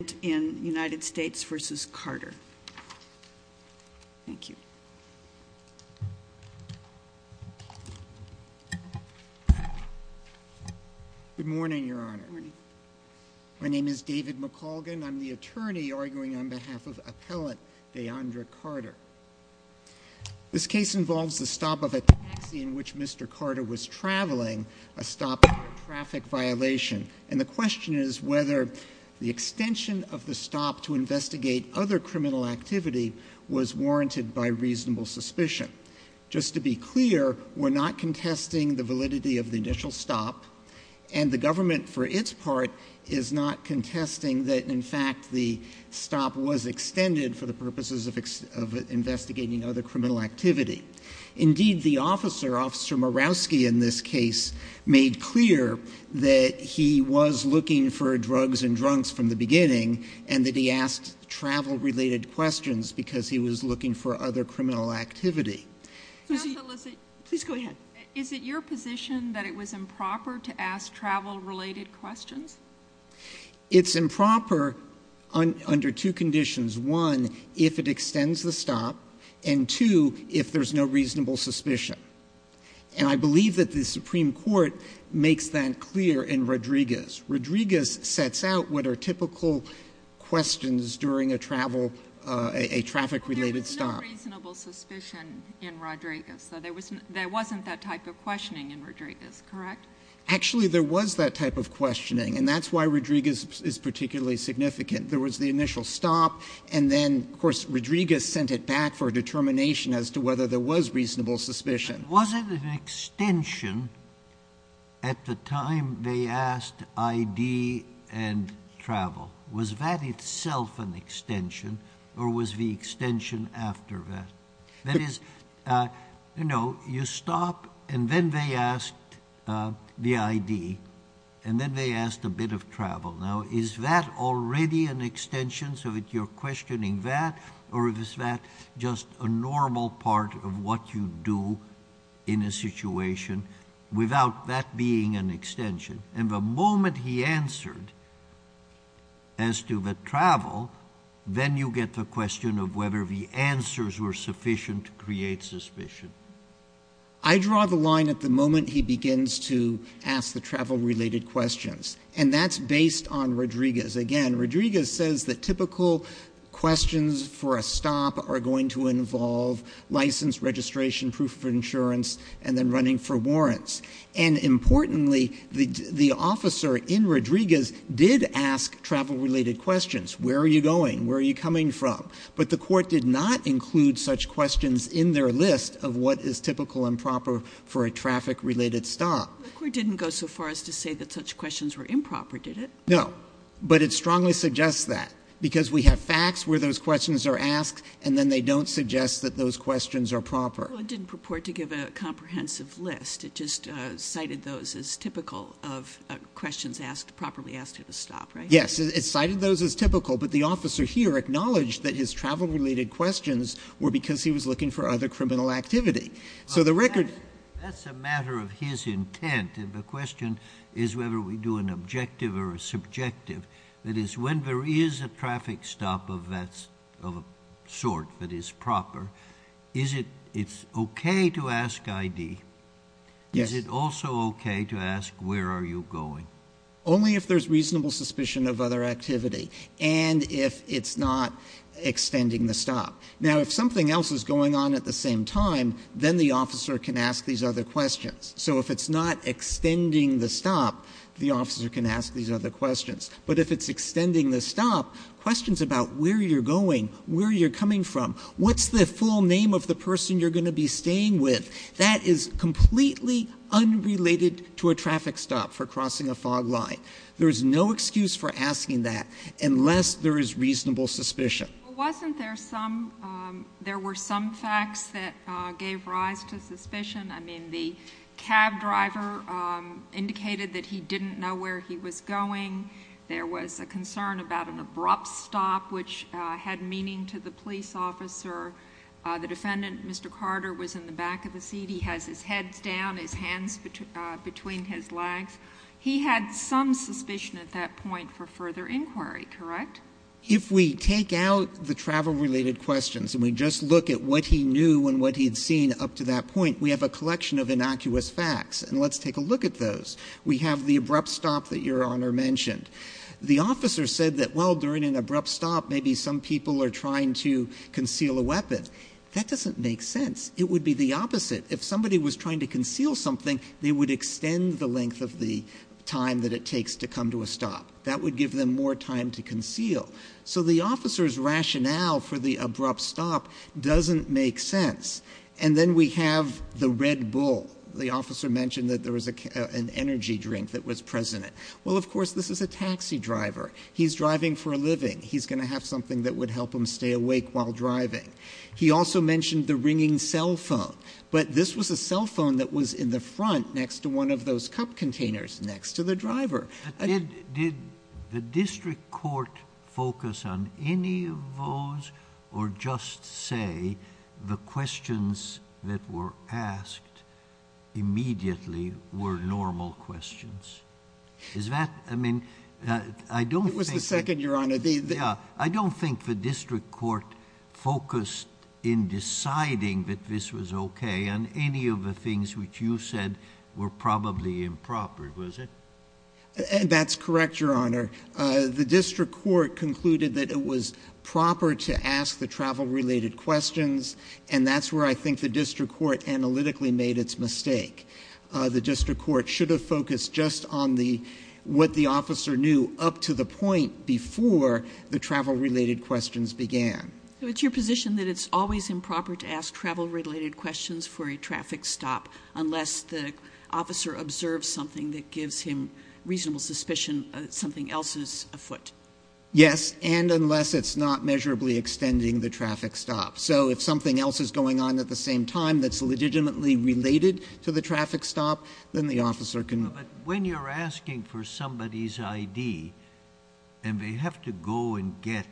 Good morning, Your Honor. My name is David McColgan. I'm the attorney arguing on behalf of Appellant DeAndre Carter. This case involves the stop of a taxi in which Mr. Carter was investigating other criminal activity was warranted by reasonable suspicion. Just to be clear, we're not contesting the validity of the initial stop, and the government for its part is not contesting that in fact the stop was extended for the purposes of investigating other criminal activity. Indeed, the officer, Officer Murawski in this case, made clear that he was looking for drugs and drunks from the beginning and that he asked travel-related questions because he was looking for other criminal activity. Is it your position that it was improper to ask travel-related questions? It's improper under two conditions. One, if it extends the stop, and two, if there's no reasonable suspicion. And I believe that the officer made that clear in Rodriguez. Rodriguez sets out what are typical questions during a travel, a traffic-related stop. There was no reasonable suspicion in Rodriguez, so there wasn't that type of questioning in Rodriguez, correct? Actually, there was that type of questioning, and that's why Rodriguez is particularly significant. There was the initial stop, and then, of course, Rodriguez sent it back for a determination as to whether there was reasonable suspicion. Was it an extension at the time they asked ID and travel? Was that itself an extension, or was the extension after that? That is, you know, you stop, and then they asked the ID, and then they asked a bit of travel. Now, is that already an extension so that you're questioning that, or is that just a normal part of what you do in a situation without that being an extension? And the moment he answered as to the travel, then you get the question of whether the answers were sufficient to create suspicion. I draw the line at the moment he begins to ask the travel-related questions, and that's based on Rodriguez. Again, Rodriguez says that typical questions for a stop are going to involve license, registration, proof of insurance, and then running for warrants. And importantly, the officer in Rodriguez did ask travel-related questions. Where are you going? Where are you coming from? But the court did not include such questions in their list of what is typical and proper for a traffic-related stop. The court didn't go so far as to say that such questions were improper, did it? No, but it strongly suggests that, because we have facts where those questions are asked, and then they don't suggest that those questions are proper. Well, it didn't purport to give a comprehensive list. It just cited those as typical of questions asked, properly asked at a stop, right? Yes, it cited those as typical, but the officer here acknowledged that his travel-related questions were because he was looking for other criminal activity. So the record That's a matter of his intent, and the question is whether we do an objective or a subjective. That is, when there is a traffic stop of that sort that is proper, is it okay to ask ID? Yes. Is it also okay to ask where are you going? Only if there's reasonable suspicion of other activity, and if it's not extending the stop. Now, if something else is going on at the same time, then the officer can ask these other questions. So if it's not extending the stop, the officer can ask these other questions. But if it's extending the stop, questions about where you're going, where you're coming from, what's the full name of the person you're going to be staying with, that is completely unrelated to a traffic stop for crossing a fog line. There is no excuse for asking that unless there is reasonable suspicion. Wasn't there some, there were some facts that gave rise to suspicion? I mean, the cab driver indicated that he didn't know where he was going. There was a concern about an abrupt stop, which had meaning to the police officer. The defendant, Mr. Carter, was in the back of the seat. He has his head down, his hands between his legs. He had some suspicion at that point for further inquiry, correct? If we take out the travel related questions, and we just look at what he knew and what he'd seen up to that point, we have a collection of innocuous facts, and let's take a look at those. We have the abrupt stop that your honor mentioned. The officer said that, well, during an abrupt stop, maybe some people are trying to conceal a weapon. That doesn't make sense. It would be the opposite. If somebody was trying to conceal something, they would extend the length of the time that it takes to come to a stop. That would give them more time to conceal. So the officer's rationale for the abrupt stop doesn't make sense. And then we have the red bull. The officer mentioned that there was an energy drink that was present. Well, of course, this is a taxi driver. He's driving for a living. He's going to have something that would help him stay awake while driving. He also mentioned the ringing cell phone. But this was a cell phone that was in the front next to one of those cup containers next to the driver. Did the district court focus on any of those, or just say the questions that were asked immediately were normal questions? Is that, I mean, I don't think- It was the second, your honor. Yeah. I don't think the district court focused in deciding that this was OK on any of the things which you said were probably improper, was it? That's correct, your honor. The district court concluded that it was proper to ask the travel-related questions, and that's where I think the district court analytically made its mistake. The district court should have focused just on what the officer knew up to the point before the travel-related questions began. So it's your position that it's always improper to ask travel-related questions for a traffic stop unless the officer observes something that gives him reasonable suspicion that something else is afoot? Yes, and unless it's not measurably extending the traffic stop. So if something else is going on at the same time that's legitimately related to the traffic stop, then the officer can- But when you're asking for somebody's ID, and they have to go and get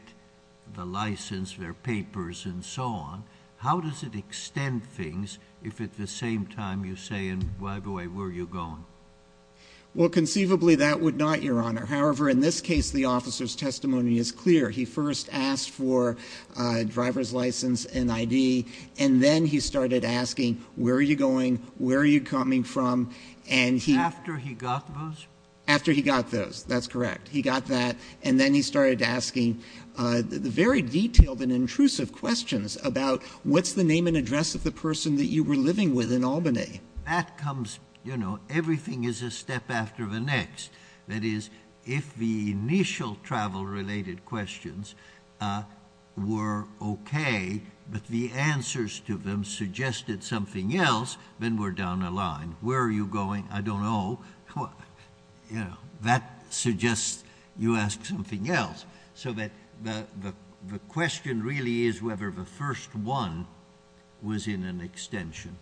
the license, their papers, and so on. How does it extend things if at the same time you say, and by the way, where are you going? Well, conceivably, that would not, your honor. However, in this case, the officer's testimony is clear. He first asked for a driver's license and ID, and then he started asking, where are you going? Where are you coming from? And he- After he got those? After he got those, that's correct. He got that, and then he started asking very detailed and intrusive questions about, what's the name and address of the person that you were living with in Albany? That comes, everything is a step after the next. That is, if the initial travel-related questions were okay, but the answers to them suggested something else, then we're down the line. Where are you going? I don't know. That suggests you ask something else. So that the question really is whether the first one was in an extension.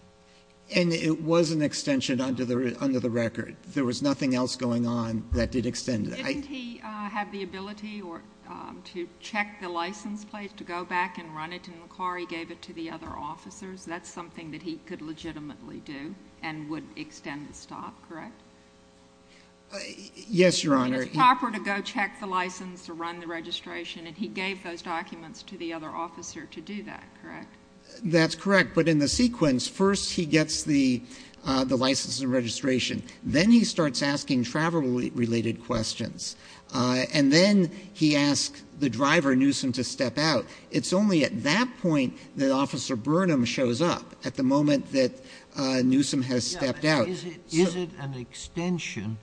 And it was an extension under the record. There was nothing else going on that did extend it. Didn't he have the ability to check the license plate to go back and run it in the car? He gave it to the other officers. That's something that he could legitimately do and would extend the stop, correct? Yes, Your Honor. It's proper to go check the license to run the registration, and he gave those documents to the other officer to do that, correct? That's correct. But in the sequence, first he gets the license and registration. Then he starts asking travel-related questions. And then he asked the driver, Newsom, to step out. It's only at that point that Officer Burnham shows up, at the moment that Newsom has stepped out. Is it an extension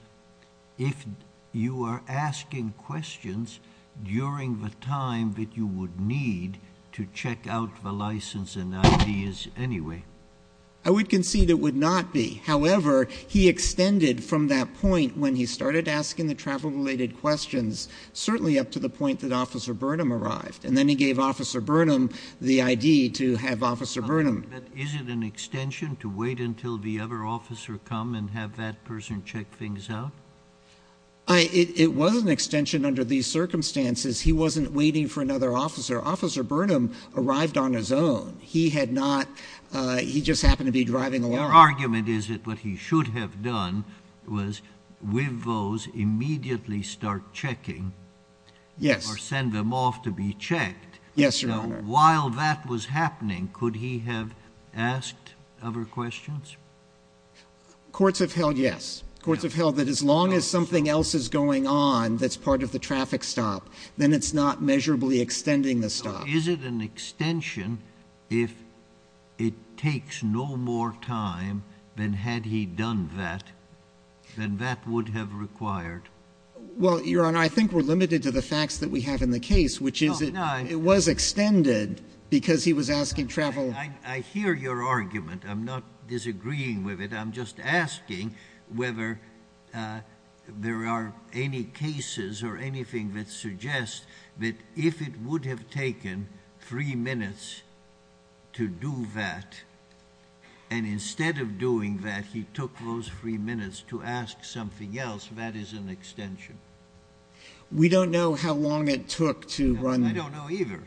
if you are asking questions during the time that you would need to check out the license and IDs anyway? I would concede it would not be. However, he extended from that point when he started asking the travel-related questions, certainly up to the point that Officer Burnham arrived. And then he gave Officer Burnham the ID to have Officer Burnham. But is it an extension to wait until the other officer come and have that person check things out? It was an extension under these circumstances. He wasn't waiting for another officer. Officer Burnham arrived on his own. He had not. He just happened to be driving along. Your argument is that what he should have done was, with those, immediately start checking. Yes. Send them off to be checked. Yes, Your Honor. While that was happening, could he have asked other questions? Courts have held, yes. Courts have held that as long as something else is going on that's part of the traffic stop, then it's not measurably extending the stop. Is it an extension if it takes no more time than had he done that, than that would have required? Well, Your Honor, I think we're limited to the facts that we have in the case, which is it was extended because he was asking travel. I hear your argument. I'm not disagreeing with it. I'm just asking whether there are any cases or anything that suggests that if it would have taken three minutes to do that, and instead of doing that, he took those three minutes to ask something else, that is an extension. We don't know how long it took to run. I don't know either.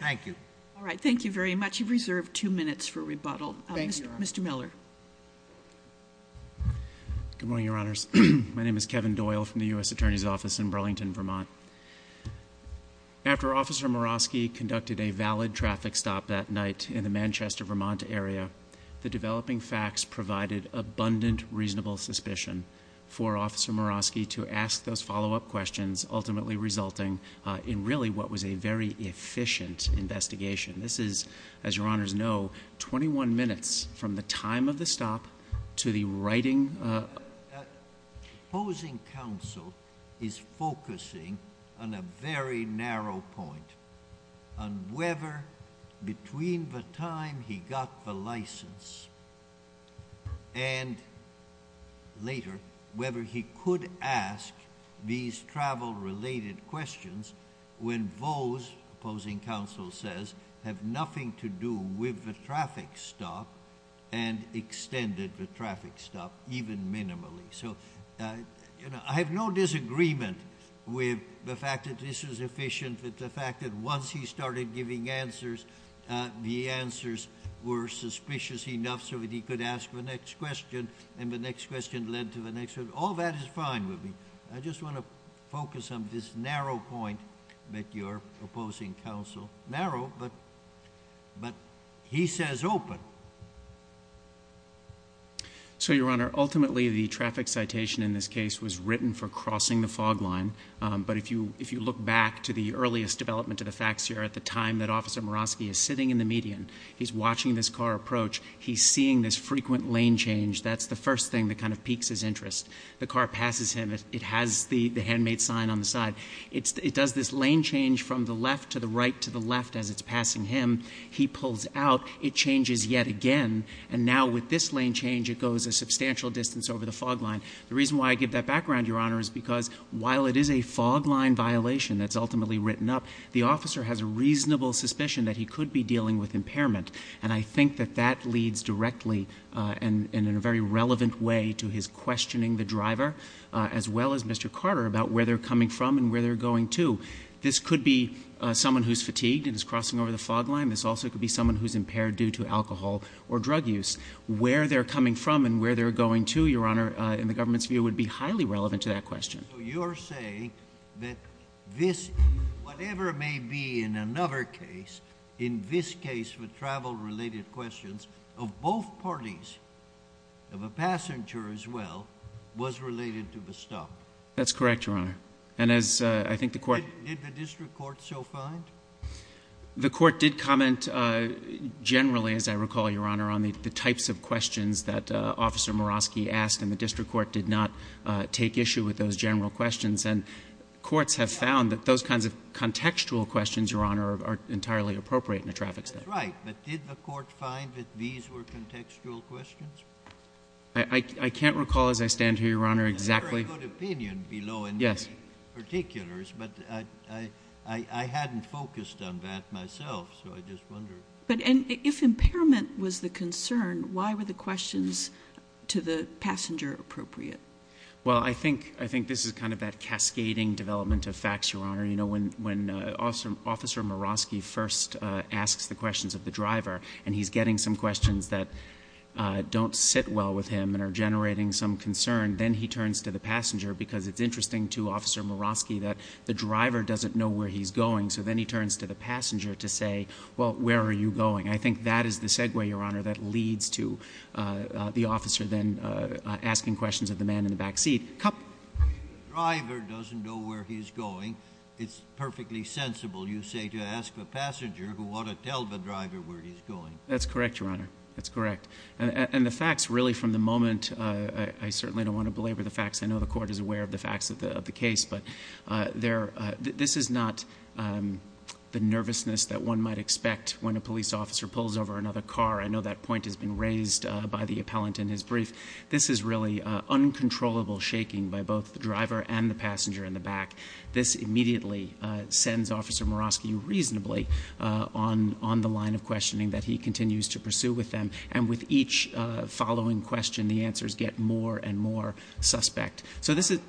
Thank you. All right. Thank you very much. You've reserved two minutes for rebuttal. Mr. Miller. Good morning, Your Honors. My name is Kevin Doyle from the U.S. Attorney's Office in Burlington, Vermont. After Officer Murawski conducted a valid traffic stop that night in the Manchester, Vermont area, the developing facts provided abundant reasonable suspicion for Officer Murawski to ask those follow-up questions, ultimately resulting in really what was a very efficient investigation. This is, as Your Honors know, 21 minutes from the time of the stop to the writing. Opposing counsel is focusing on a very narrow point, on whether between the time he got the license and later, whether he could ask these travel-related questions when those, opposing counsel says, have nothing to do with the traffic stop and extended the traffic stop even minimally. So I have no disagreement with the fact that this is efficient, with the fact that once he started giving answers, the answers were suspicious enough so that he could ask the next question, and the next question led to the next one. All that is fine with me. I just want to focus on this narrow point that you're opposing counsel. Narrow, but he says open. So, Your Honor, ultimately the traffic citation in this case was written for crossing the fog line, but if you look back to the earliest development of the facts here, at the time that Officer Murawski is sitting in the median, he's watching this car approach. He's seeing this frequent lane change. That's the first thing that kind of piques his interest. The car passes him. It has the handmade sign on the side. It does this lane change from the left to the right to the left as it's passing him. He pulls out. It changes yet again, and now with this lane change, it goes a substantial distance over the fog line. The reason why I give that background, Your Honor, is because while it is a fog line violation that's ultimately written up, the officer has a reasonable suspicion that he could be dealing with impairment, and I think that that leads directly and in a very relevant way to his questioning the driver, as well as Mr. Carter, about where they're coming from and where they're going to. This could be someone who's fatigued and is crossing over the fog line. This also could be someone who's impaired due to alcohol or drug use. Where they're coming from and where they're going to, Your Honor, in the government's view, would be highly relevant to that question. So you're saying that this, whatever it may be in another case, in this case with travel-related questions of both parties, of a passenger as well, was related to the stop? That's correct, Your Honor, and as I think the court— Did the district court so find? The court did comment generally, as I recall, Your Honor, on the types of questions that Officer Murawski asked, and the district court did not take issue with those general questions, and courts have found that those kinds of contextual questions, Your Honor, are entirely appropriate in a traffic stop. Right, but did the court find that these were contextual questions? I can't recall as I stand here, Your Honor, exactly— I'm not focused on that myself, so I just wonder. But if impairment was the concern, why were the questions to the passenger appropriate? Well, I think this is kind of that cascading development of facts, Your Honor. You know, when Officer Murawski first asks the questions of the driver, and he's getting some questions that don't sit well with him and are generating some concern, then he turns to the passenger, because it's interesting to Officer Murawski that the driver doesn't know where he's going, so then he turns to the passenger to say, well, where are you going? I think that is the segue, Your Honor, that leads to the officer then asking questions of the man in the back seat. If the driver doesn't know where he's going, it's perfectly sensible, you say, to ask the passenger who ought to tell the driver where he's going. That's correct, Your Honor. That's correct. And the facts, really, from the moment—I certainly don't want to belabor the facts. I know the Court is aware of the facts of the case, but this is not the nervousness that one might expect when a police officer pulls over another car. I know that point has been raised by the appellant in his brief. This is really uncontrollable shaking by both the driver and the passenger in the back. This immediately sends Officer Murawski reasonably on the line of questioning that he continues to pursue with them, and with each following question, the answers get more and more suspect. So this is—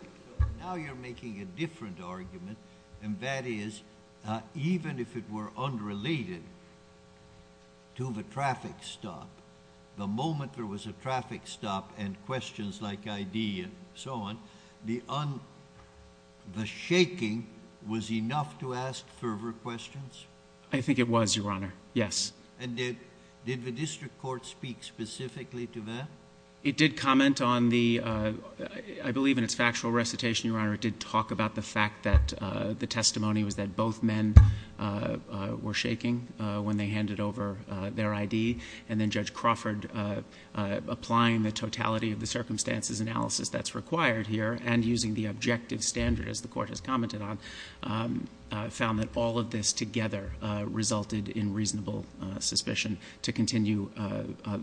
Now you're making a different argument, and that is, even if it were unrelated to the traffic stop, the moment there was a traffic stop and questions like ID and so on, the shaking was enough to ask further questions? I think it was, Your Honor. Yes. And did the district court speak specifically to that? It did comment on the—I believe in its factual recitation, Your Honor, it did talk about the fact that the testimony was that both men were shaking when they handed over their ID, and then Judge Crawford, applying the totality of the circumstances analysis that's required here, and using the objective standard, as the Court has commented on, found that all of this together resulted in reasonable suspicion to continue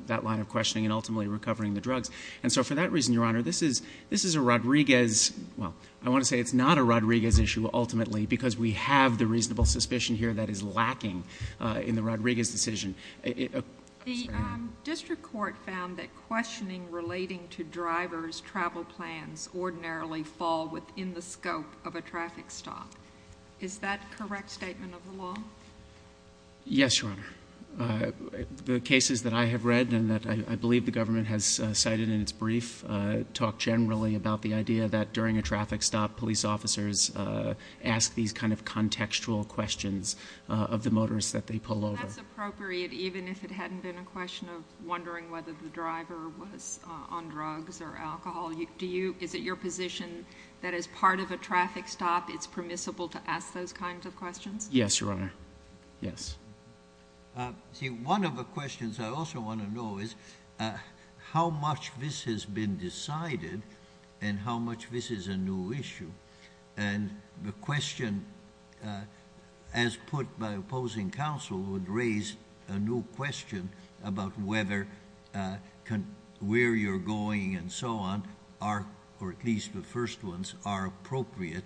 that line of questioning and ultimately recovering the drugs. And so for that reason, Your Honor, this is a Rodriguez—well, I want to say it's not a Rodriguez issue ultimately, because we have the reasonable suspicion here that is lacking in the Rodriguez decision. The district court found that questioning relating to driver's travel plans ordinarily fall within the scope of a traffic stop. Is that correct statement of the law? Yes, Your Honor. The cases that I have read and that I believe the government has cited in its brief talk generally about the idea that during a traffic stop, police officers ask these kind of contextual questions of the motorists that they pull over. That's appropriate, even if it hadn't been a question of wondering whether the driver was on drugs or alcohol. Is it your position that as part of a traffic stop, it's permissible to ask those kinds of questions? Yes, Your Honor. Yes. See, one of the questions I also want to know is how much this has been decided and how much this is a new issue. And the question, as put by opposing counsel, would raise a new question about whether where you're going and so on are, or at least the first ones, are appropriate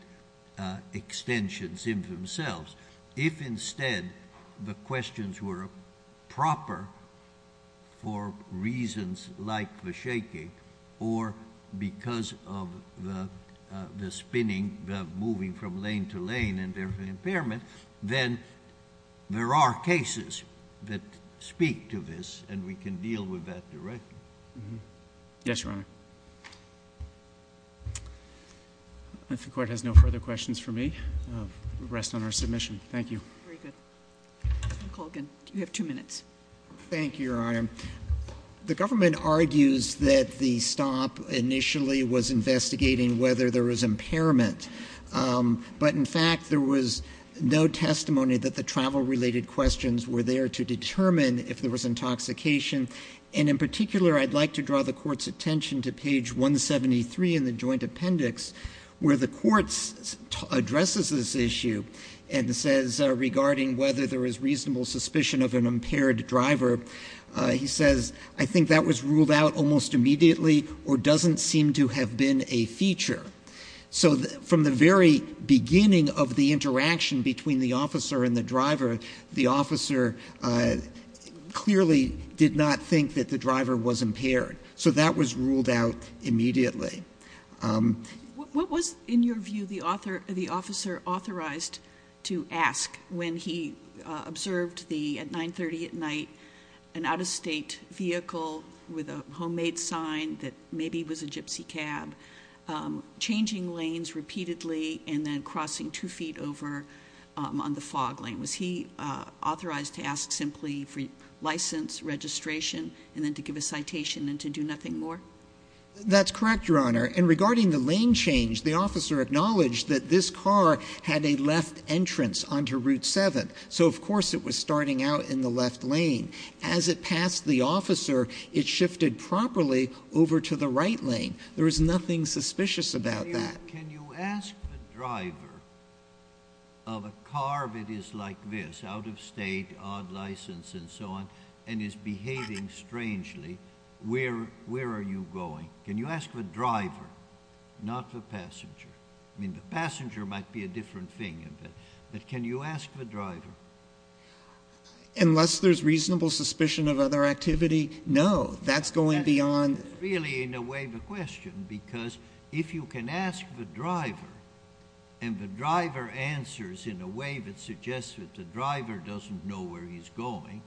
extensions in themselves. If instead the questions were proper for reasons like the shaking or because of the spinning, the moving from lane to lane and therefore impairment, then there are cases that speak to this and we can deal with that directly. Yes, Your Honor. If the court has no further questions for me, we rest on our submission. Thank you. Very good. Mr. Colgan, you have two minutes. Thank you, Your Honor. The government argues that the stop initially was investigating whether there was impairment. But in fact, there was no testimony that the travel-related questions were there to determine if there was intoxication. And in particular, I'd like to draw the court's attention to page 173 in the joint appendix where the court addresses this issue and says, regarding whether there was reasonable suspicion of an impaired driver, he says, I think that was ruled out almost immediately or doesn't seem to have been a feature. So from the very beginning of the interaction between the officer and the driver, the officer clearly did not think that the driver was impaired. So that was ruled out immediately. What was, in your view, the officer authorized to ask when he observed the, at 930 at night, an out-of-state vehicle with a homemade sign that maybe was a gypsy cab, changing lanes repeatedly and then crossing two feet over on the fog lane? Was he authorized to ask simply for license, registration, and then to give a citation and to do nothing more? That's correct, Your Honor. And regarding the lane change, the officer acknowledged that this car had a left entrance onto Route 7. So, of course, it was starting out in the left lane. As it passed the officer, it shifted properly over to the right lane. There was nothing suspicious about that. Can you ask the driver of a car that is like this, out-of-state, odd license and so on, and is behaving strangely, where are you going? Can you ask the driver, not the passenger? I mean, the passenger might be a different thing, but can you ask the driver? Unless there's reasonable suspicion of other activity? No, that's going beyond... Really, in a way, the question, because if you can ask the driver, and the driver answers in a way that suggests that the driver doesn't know where he's going,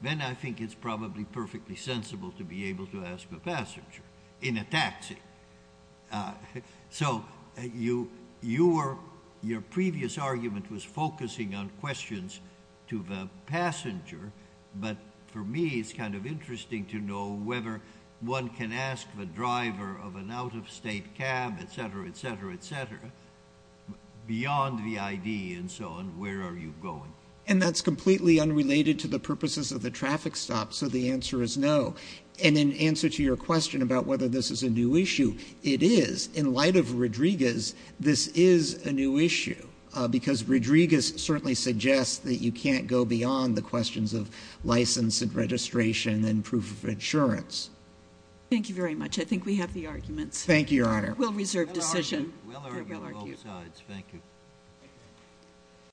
then I think it's probably perfectly sensible to be able to ask the passenger. In a taxi. So, your previous argument was focusing on questions to the passenger, but for me, it's kind of interesting to know whether one can ask the driver of an out-of-state cab, et cetera, et cetera, et cetera, beyond the ID and so on, where are you going? And that's completely unrelated to the purposes of the traffic stop, so the answer is no. And in answer to your question about whether this is a new issue, it is. In light of Rodriguez, this is a new issue, because Rodriguez certainly suggests that you can't go beyond the questions of license and registration and proof of insurance. Thank you very much. I think we have the arguments. Thank you, Your Honor. We'll reserve decision. We'll argue both sides. Thank you.